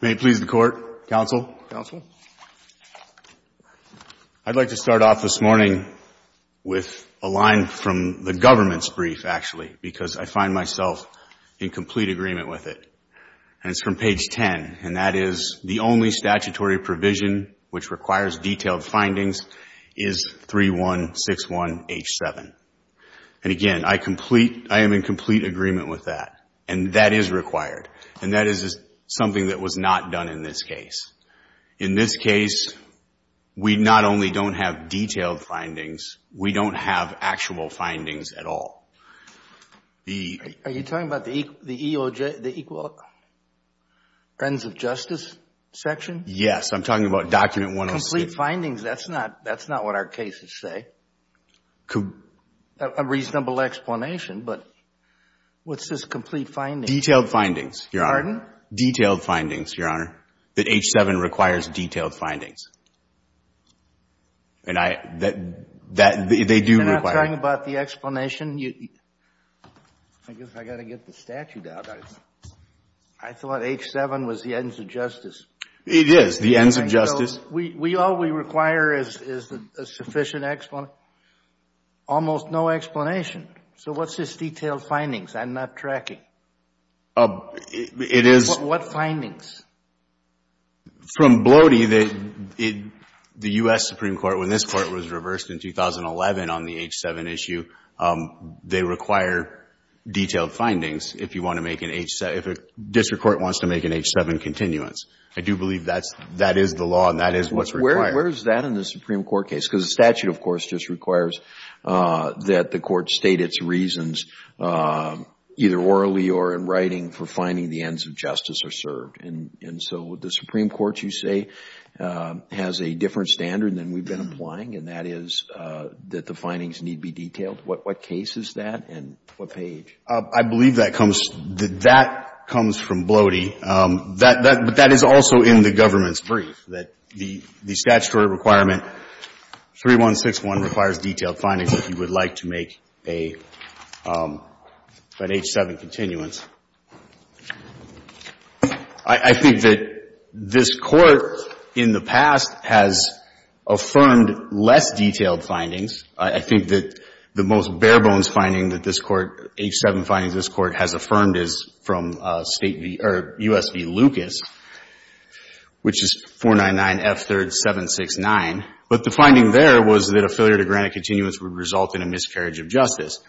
May it please the Court, Counsel. I'd like to start off this morning with a line from the government's brief, actually, because I find myself in complete agreement with it. And it's from page 10, and that is, the only statutory provision which requires detailed findings is 3161H7. And again, I am in complete agreement with that. And that is required. And that is something that was not done in this case. In this case, we not only don't have detailed findings, we don't have actual findings at all. Are you talking about the equal ends of justice section? Yes, I'm talking about document 106. Complete findings, that's not what our cases say. A reasonable explanation, but what's this complete findings? Detailed findings, Your Honor. Pardon? Detailed findings, Your Honor, that H7 requires detailed findings. And I, that, they do require. You're not talking about the explanation? I guess I got to get the statute out. I thought H7 was the ends of justice. It is, the ends of justice. All we require is a sufficient explanation, almost no explanation. So what's this detailed findings? I'm not tracking. It is. What findings? From Blody, the U.S. Supreme Court, when this court was reversed in 2011 on the H7 issue, they require detailed findings if you want to make an H7, if a district court wants to make an H7 continuance. I do believe that is the law and that is what's required. Where is that in the Supreme Court case? Because the statute, of course, just requires that the court state its reasons, either orally or in writing, for finding the ends of justice are served. And so the Supreme Court, you say, has a different standard than we've been applying, and that is that the findings need be detailed. What case is that and what page? I believe that comes from Blody. But that is also in the government's brief, that the statutory requirement 3161 requires detailed findings if you would like to make an H7 continuance. I think that this Court in the past has affirmed less detailed findings. I think that the most bare-bones finding that this Court, H7 findings this Court has affirmed, is from State v. or U.S. v. Lucas, which is 499F3rd769. But the finding there was that a failure to grant a continuance would result in a miscarriage of justice.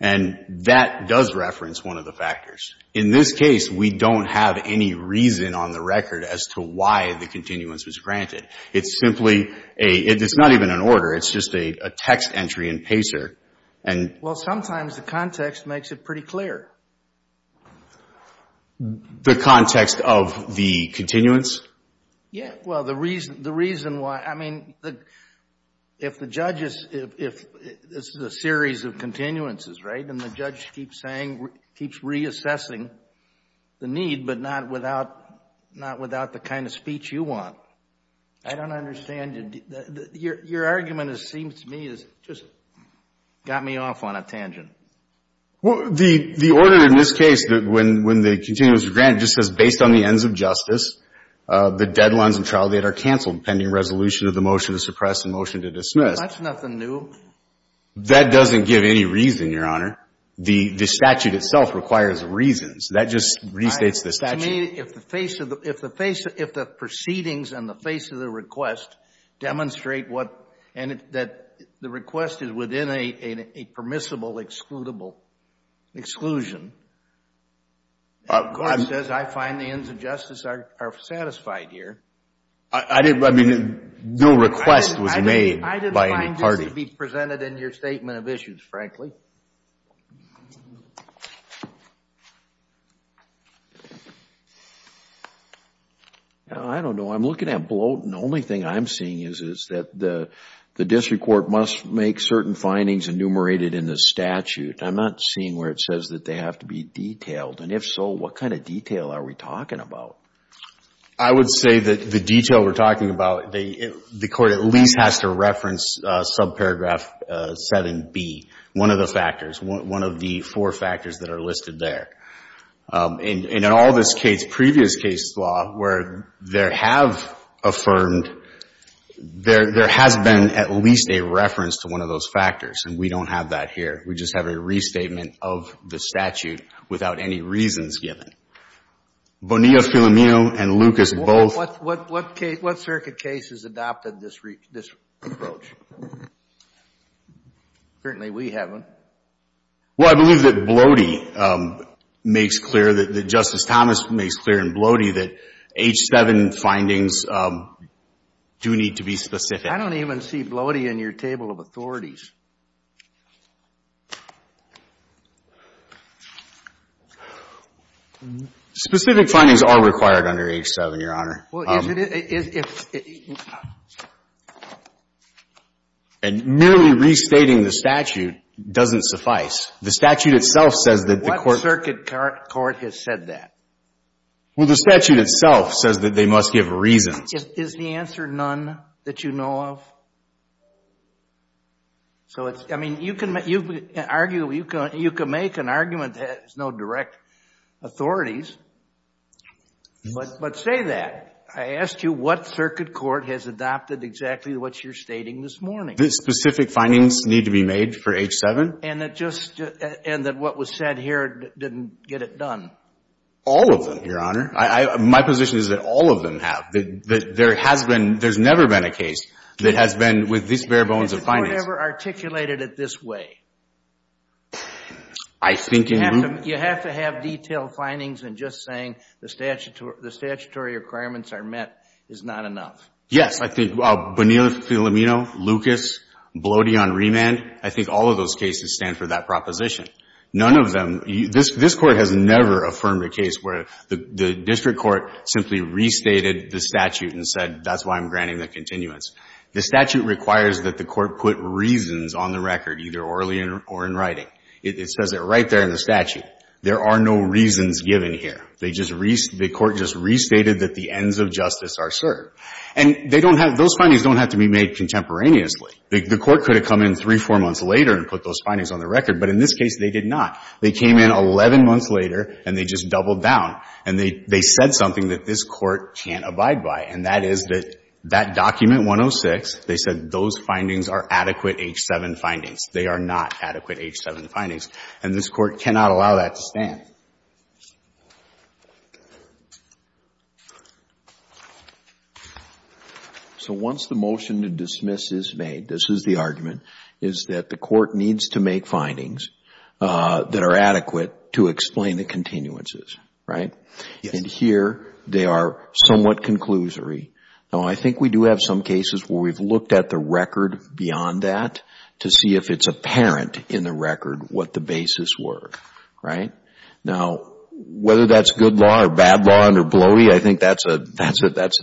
And that does reference one of the factors. In this case, we don't have any reason on the record as to why the continuance was granted. It's simply a — it's not even an order. It's just a text entry in PACER. Well, sometimes the context makes it pretty clear. The context of the continuance? Yeah. Well, the reason why — I mean, if the judge is — it's a series of continuances, right? And the judge keeps saying — keeps reassessing the need, but not without the kind of speech you want. I don't understand. Your argument, it seems to me, has just got me off on a tangent. Well, the order in this case, when the continuance was granted, just says, based on the ends of justice, the deadlines and trial date are canceled, pending resolution of the motion to suppress and motion to dismiss. That's nothing new. That doesn't give any reason, Your Honor. The statute itself requires reasons. That just restates the statute. If the proceedings and the face of the request demonstrate what — and that the request is within a permissible, excludable exclusion, it says, I find the ends of justice are satisfied here. I didn't — I mean, no request was made by any party. That should be presented in your statement of issues, frankly. I don't know. I'm looking at Blotin. The only thing I'm seeing is that the district court must make certain findings enumerated in the statute. I'm not seeing where it says that they have to be detailed. And if so, what kind of detail are we talking about? I would say that the detail we're talking about, the court at least has to reference subparagraph 7B, one of the factors, one of the four factors that are listed there. And in all this case, previous case law, where there have affirmed, there has been at least a reference to one of those factors. And we don't have that here. We just have a restatement of the statute without any reasons given. Bonilla-Filamino and Lucas both. What circuit cases adopted this approach? Apparently we haven't. Well, I believe that Blotin makes clear, that Justice Thomas makes clear in Blotin that H7 findings do need to be specific. I don't even see Blotin in your table of authorities. Specific findings are required under H7, Your Honor. Well, is it? And merely restating the statute doesn't suffice. The statute itself says that the court. What circuit court has said that? Well, the statute itself says that they must give a reason. Is the answer none that you know of? So, I mean, you can make an argument that has no direct authorities, but say that. I asked you what circuit court has adopted exactly what you're stating this morning. The specific findings need to be made for H7? And that what was said here didn't get it done. All of them, Your Honor. My position is that all of them have. That there has been, there's never been a case that has been with this bare bones of findings. It's whatever articulated it this way. I think in. You have to have detailed findings in just saying the statutory requirements are met is not enough. Yes, I think Bonilla-Filamino, Lucas, Blotin on remand, I think all of those cases stand for that proposition. None of them. This Court has never affirmed a case where the district court simply restated the statute and said that's why I'm granting the continuance. The statute requires that the court put reasons on the record, either orally or in writing. It says it right there in the statute. There are no reasons given here. They just restated, the court just restated that the ends of justice are served. And they don't have, those findings don't have to be made contemporaneously. The court could have come in three, four months later and put those findings on the record. But in this case, they did not. They came in 11 months later and they just doubled down. And they said something that this Court can't abide by. And that is that that document 106, they said those findings are adequate H-7 findings. They are not adequate H-7 findings. And this Court cannot allow that to stand. So once the motion to dismiss is made, this is the argument, is that the court needs to make findings that are adequate to explain the continuances. Right? And here they are somewhat conclusory. Now, I think we do have some cases where we've looked at the record beyond that to see if it's apparent in the record what the basis were. Right? Now, whether that's good law or bad law under Bloey, I think that's a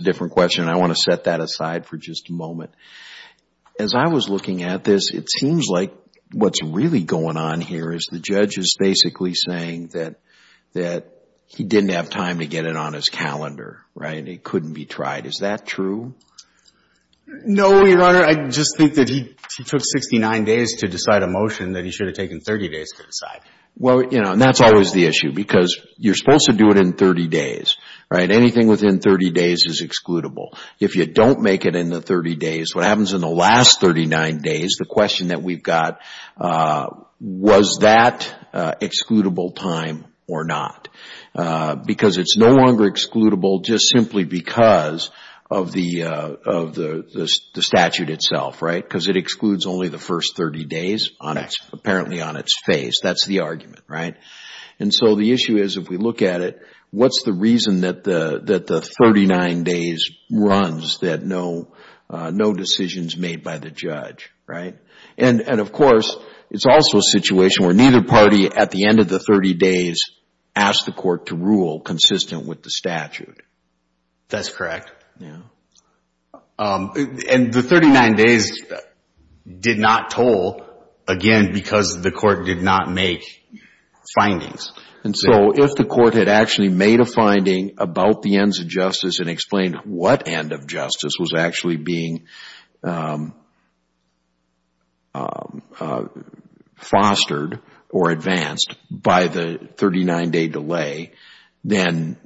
different question. I want to set that aside for just a moment. As I was looking at this, it seems like what's really going on here is the judge is basically saying that he didn't have time to get it on his calendar. Right? It couldn't be tried. Is that true? No, Your Honor. I just think that he took 69 days to decide a motion that he should have taken 30 days to decide. Well, you know, and that's always the issue because you're supposed to do it in 30 days. Right? Anything within 30 days is excludable. If you don't make it in the 30 days, what happens in the last 39 days, the question that we've got, was that excludable time or not? Because it's no longer excludable just simply because of the statute itself. Right? Because it excludes only the first 30 days apparently on its face. That's the argument. Right? And so the issue is if we look at it, what's the reason that the 39 days runs that no decision is made by the judge? Right? And, of course, it's also a situation where neither party at the end of the 30 days asked the court to rule consistent with the statute. That's correct. Yeah. And the 39 days did not toll, again, because the court did not make findings. And so if the court had actually made a finding about the ends of justice and explained what end of justice was actually being fostered or advanced by the 39-day delay, then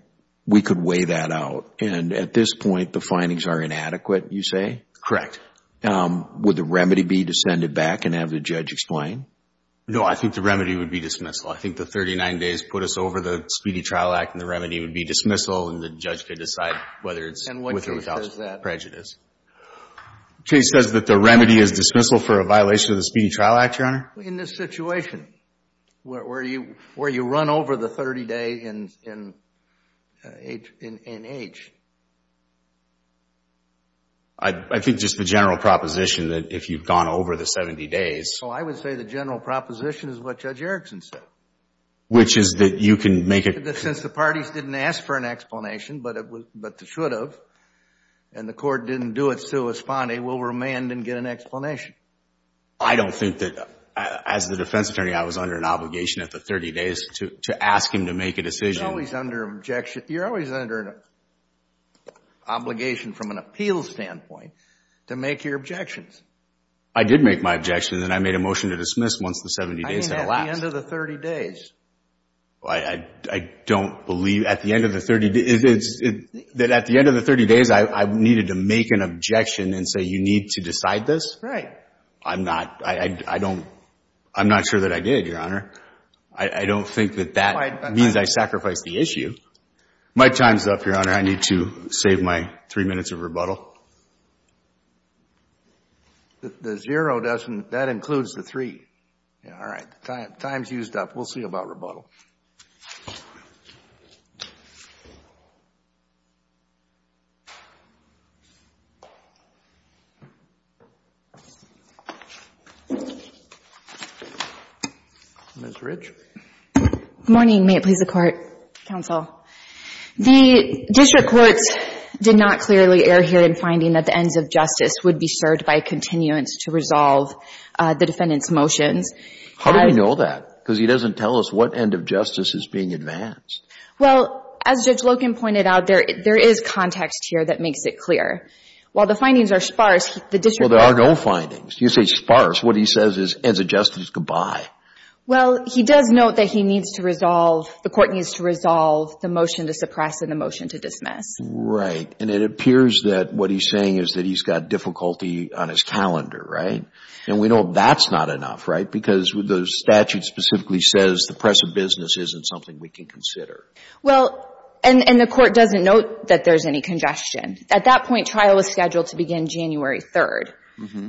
we could weigh that out. And at this point, the findings are inadequate, you say? Would the remedy be to send it back and have the judge explain? No, I think the remedy would be dismissal. I think the 39 days put us over the Speedy Trial Act, and the remedy would be dismissal, and the judge could decide whether it's with or without prejudice. Case says that the remedy is dismissal for a violation of the Speedy Trial Act, Your Honor. In this situation, where you run over the 30-day in H? I think just the general proposition that if you've gone over the 70 days... Oh, I would say the general proposition is what Judge Erickson said. Which is that you can make a... That since the parties didn't ask for an explanation, but they should have, and the court didn't do it, so it was fine. They will remand and get an explanation. I don't think that, as the defense attorney, I was under an obligation at the 30 days to ask him to make a decision. You're always under an obligation from an appeals standpoint to make your objections. I did make my objections, and I made a motion to dismiss once the 70 days had elapsed. I mean, at the end of the 30 days. I don't believe at the end of the 30 days... That at the end of the 30 days, I needed to make an objection and say, you need to decide this? Right. I'm not, I don't, I'm not sure that I did, Your Honor. I don't think that that means I sacrificed the issue. My time's up, Your Honor. I need to save my three minutes of rebuttal. The zero doesn't, that includes the three. Yeah, all right. Time's used up. We'll see about rebuttal. Ms. Rich. Good morning. May it please the Court, Counsel. The district courts did not clearly err here in finding that the ends of justice would be served by continuance to resolve the defendant's motions. How do we know that? Because he doesn't tell us what end of justice is being advanced. Well, as Judge Loken pointed out, there is context here that makes it clear. While the findings are sparse, the district court... Well, there are no findings. You say sparse. What he says is ends of justice goodbye. Well, he does note that he needs to resolve, the court needs to resolve the motion to suppress and the motion to dismiss. Right. And it appears that what he's saying is that he's got difficulty on his calendar, right? And we know that's not enough, right? Because the statute specifically says the press of business isn't something we can consider. Well, and the court doesn't note that there's any congestion. At that point, trial was scheduled to begin January 3rd.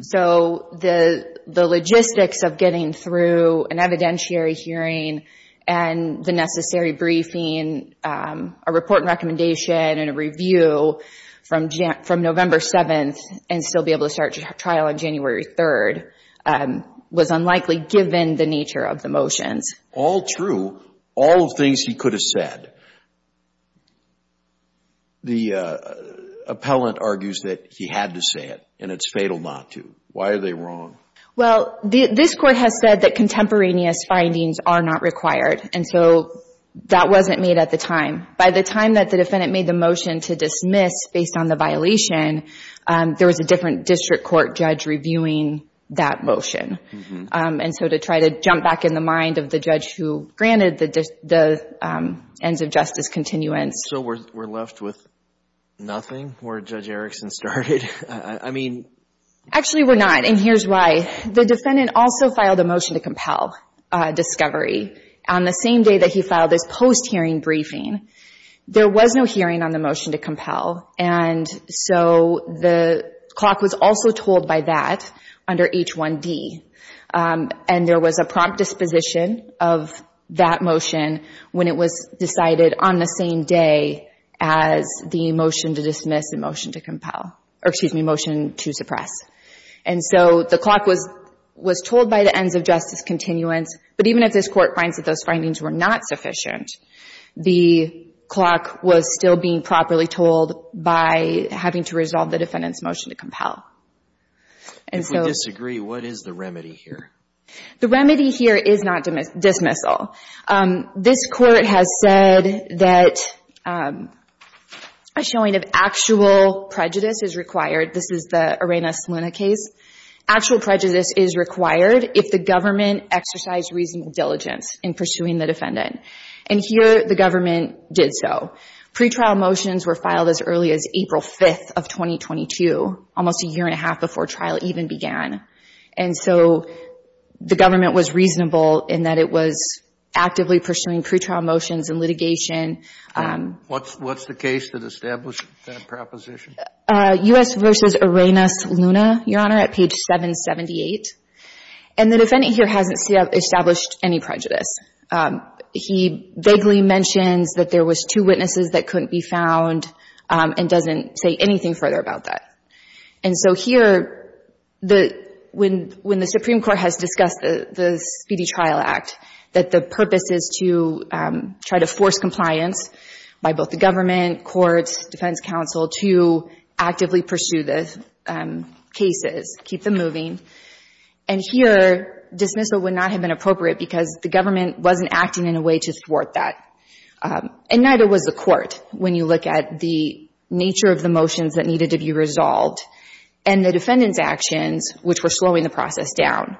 So the logistics of getting through an evidentiary hearing and the necessary briefing, a report and recommendation and a review from November 7th and still be able to start trial on January 3rd, was unlikely given the nature of the motions. All true, all of the things he could have said. The appellant argues that he had to say it and it's fatal not to. Why are they wrong? Well, this court has said that contemporaneous findings are not required. And so that wasn't made at the time. By the time that the defendant made the motion to dismiss based on the violation, there was a different district court judge reviewing that motion. And so to try to jump back in the mind of the judge who granted the ends of justice continuance. So we're left with nothing where Judge Erickson started? I mean... Actually, we're not. And here's why. The defendant also filed a motion to compel discovery on the same day that he filed his post-hearing briefing. There was no hearing on the motion to compel. And so the clock was also told by that under H1D. And there was a prompt disposition of that motion when it was decided on the same day as the motion to dismiss and motion to compel. Or excuse me, motion to suppress. And so the clock was told by the ends of justice continuance. But even if this court finds that those findings were not sufficient, the clock was still being properly told by having to resolve the defendant's motion to compel. If we disagree, what is the remedy here? The remedy here is not dismissal. This court has said that a showing of actual prejudice is required. This is the Arena-Saluna case. Actual prejudice is required if the government exercised reasonable diligence in pursuing the defendant. And here the government did so. Pretrial motions were filed as early as April 5th of 2022, almost a year and a half before trial even began. And so the government was reasonable in that it was actively pursuing pretrial motions and litigation. What's the case that established that proposition? U.S. v. Arena-Saluna, Your Honor, at page 778. And the defendant here hasn't established any prejudice. He vaguely mentions that there was two witnesses that couldn't be found and doesn't say anything further about that. And so here, when the Supreme Court has discussed the Speedy Trial Act, that the purpose is to try to force compliance by both the government, courts, defense counsel to actively pursue the cases, keep them moving. And here, dismissal would not have been appropriate because the government wasn't acting in a way to thwart that. And neither was the court when you look at the nature of the motions that needed to be resolved and the defendant's actions, which were slowing the process down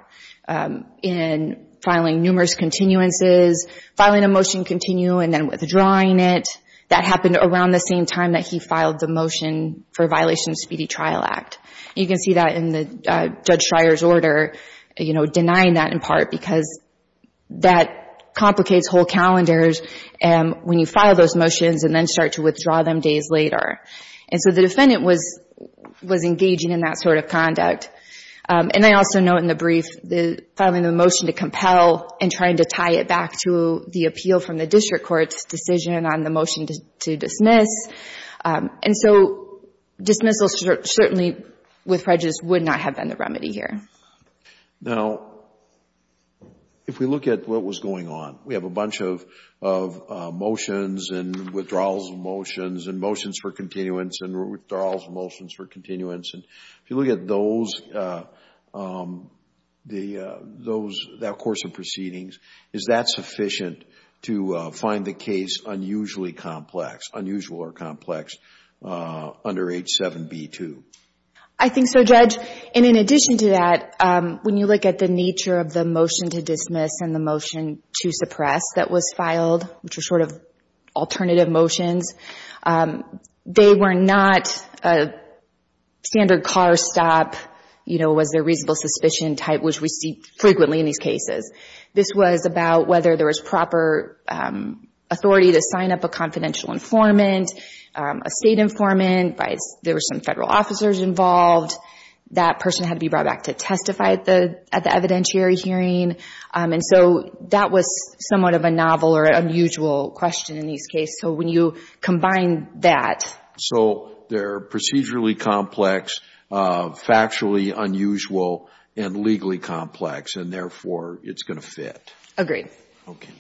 in filing numerous continuances, filing a motion continue and then withdrawing it. That happened around the same time that he filed the motion for violation of Speedy Trial Act. You can see that in Judge Schreyer's order, you know, denying that in part because that complicates whole calendars when you file those motions and then start to withdraw them days later. And so the defendant was engaging in that sort of conduct. And I also note in the brief, filing the motion to compel and trying to tie it back to the appeal from the district court's decision on the motion to dismiss. And so dismissal certainly with prejudice would not have been the remedy here. Now, if we look at what was going on, we have a bunch of motions and withdrawals of motions and motions for continuance and withdrawals of motions for continuance. And if you look at those, that course of proceedings, is that sufficient to find the case unusually complex, unusual or complex under H7B2? I think so, Judge. And in addition to that, when you look at the nature of the motion to dismiss and the motion to suppress that was filed, which was sort of alternative motions, they were not standard car stop, you know, was there reasonable suspicion type, which we see frequently in these cases. This was about whether there was proper authority to sign up a confidential informant, a state informant. There were some federal officers involved. That person had to be brought back to testify at the evidentiary hearing. And so that was somewhat of a novel or unusual question in these cases. So when you combine that. So they're procedurally complex, factually unusual and legally complex and therefore it's going to fit. Agreed. Okay.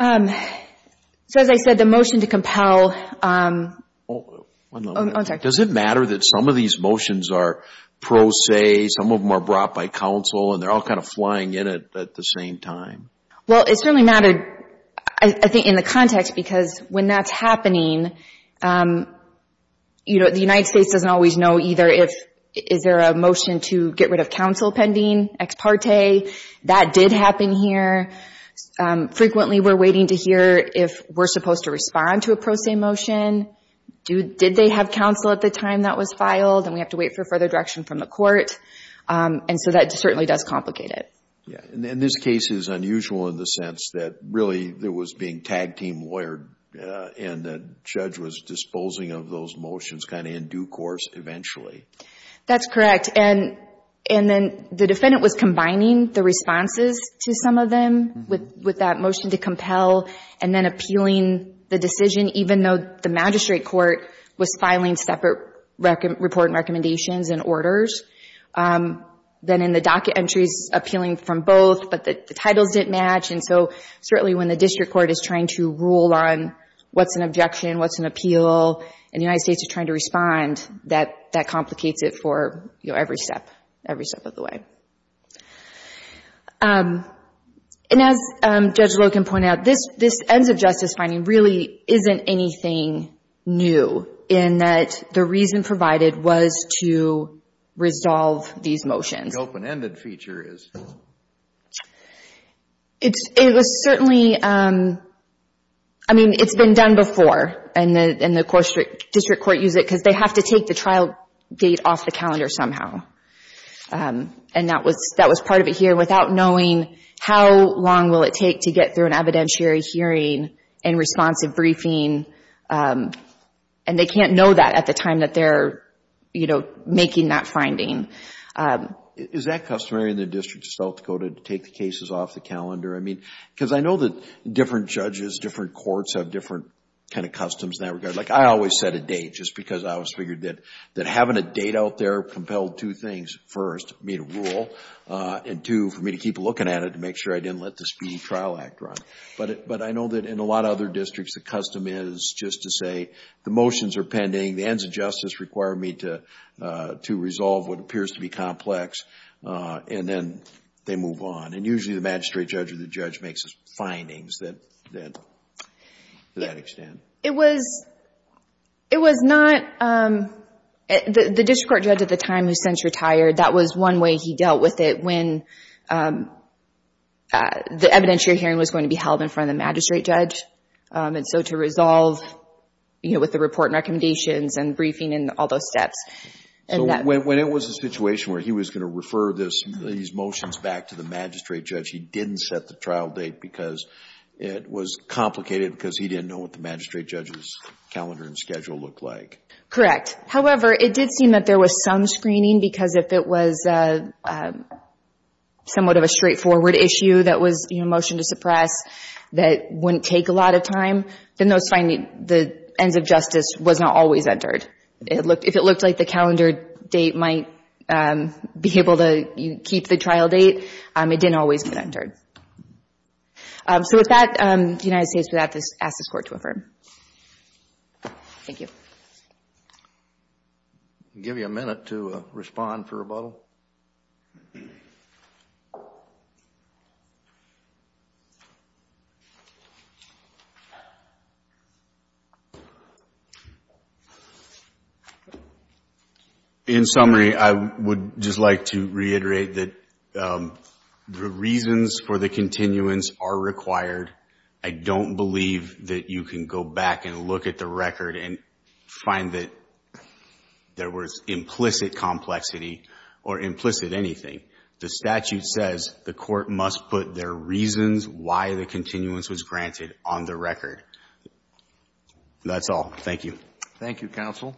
So as I said, the motion to compel. One moment. Does it matter that some of these motions are pro se, some of them are brought by counsel and they're all kind of flying in at the same time? Well, it's really not, I think, in the context because when that's happening, you know, the United States doesn't always know either if, is there a motion to get rid of counsel pending, ex parte. That did happen here. Frequently we're waiting to hear if we're supposed to respond to a pro se motion. Did they have counsel at the time that was filed? And we have to wait for further direction from the court. And so that certainly does complicate it. Yeah. And this case is unusual in the sense that really there was being tag team lawyered and the judge was disposing of those motions kind of in due course eventually. That's correct. And then the defendant was combining the responses to some of them with that motion to compel and then appealing the decision even though the magistrate court was filing separate report and recommendations and orders. Then in the docket entries appealing from both but the titles didn't match. And so certainly when the district court is trying to rule on what's an objection, what's an appeal, and the United States is trying to respond, that complicates it for every step, every step of the way. And as Judge Loken pointed out, this ends of justice finding really isn't anything new in that the reason provided was to resolve these motions. The open ended feature is. It was certainly, I mean, it's been done before. And the district court used it because they have to take the trial date off the calendar somehow. And that was part of it here without knowing how long will it take to get through an evidentiary hearing and responsive briefing. And they can't know that at the time that they're, you know, making that finding. Is that customary in the District of South Dakota to take the cases off the calendar? I mean, because I know that different judges, different courts have different kind of customs in that regard. Like I always set a date just because I always figured that having a date out there compelled two things. First, me to rule. And two, for me to keep looking at it to make sure I didn't let the Speedy Trial Act run. But I know that in a lot of other districts the custom is just to say the motions are pending. The ends of justice require me to resolve what appears to be complex. And then they move on. And usually the magistrate judge or the judge makes his findings to that extent. It was not, the district court judge at the time who's since retired, that was one way he dealt with it. When the evidentiary hearing was going to be held in front of the magistrate judge. And so to resolve, you know, with the report and recommendations and briefing and all those steps. So when it was a situation where he was going to refer these motions back to the magistrate judge, he didn't set the trial date because it was complicated because he didn't know what the magistrate judge's calendar and schedule looked like. Correct. However, it did seem that there was some screening because if it was somewhat of a straightforward issue that was, you know, motion to suppress that wouldn't take a lot of time, then those findings, the ends of justice was not always entered. If it looked like the calendar date might be able to keep the trial date, it didn't always get entered. So with that, the United States would have to ask this Court to affirm. Thank you. I'll give you a minute to respond for rebuttal. In summary, I would just like to reiterate that the reasons for the continuance are required. I don't believe that you can go back and look at the record and find that there was implicit complexity or implicit anything. The statute says the Court must put their reasons why the continuance was granted on the record. That's all. Thank you. Thank you, counsel.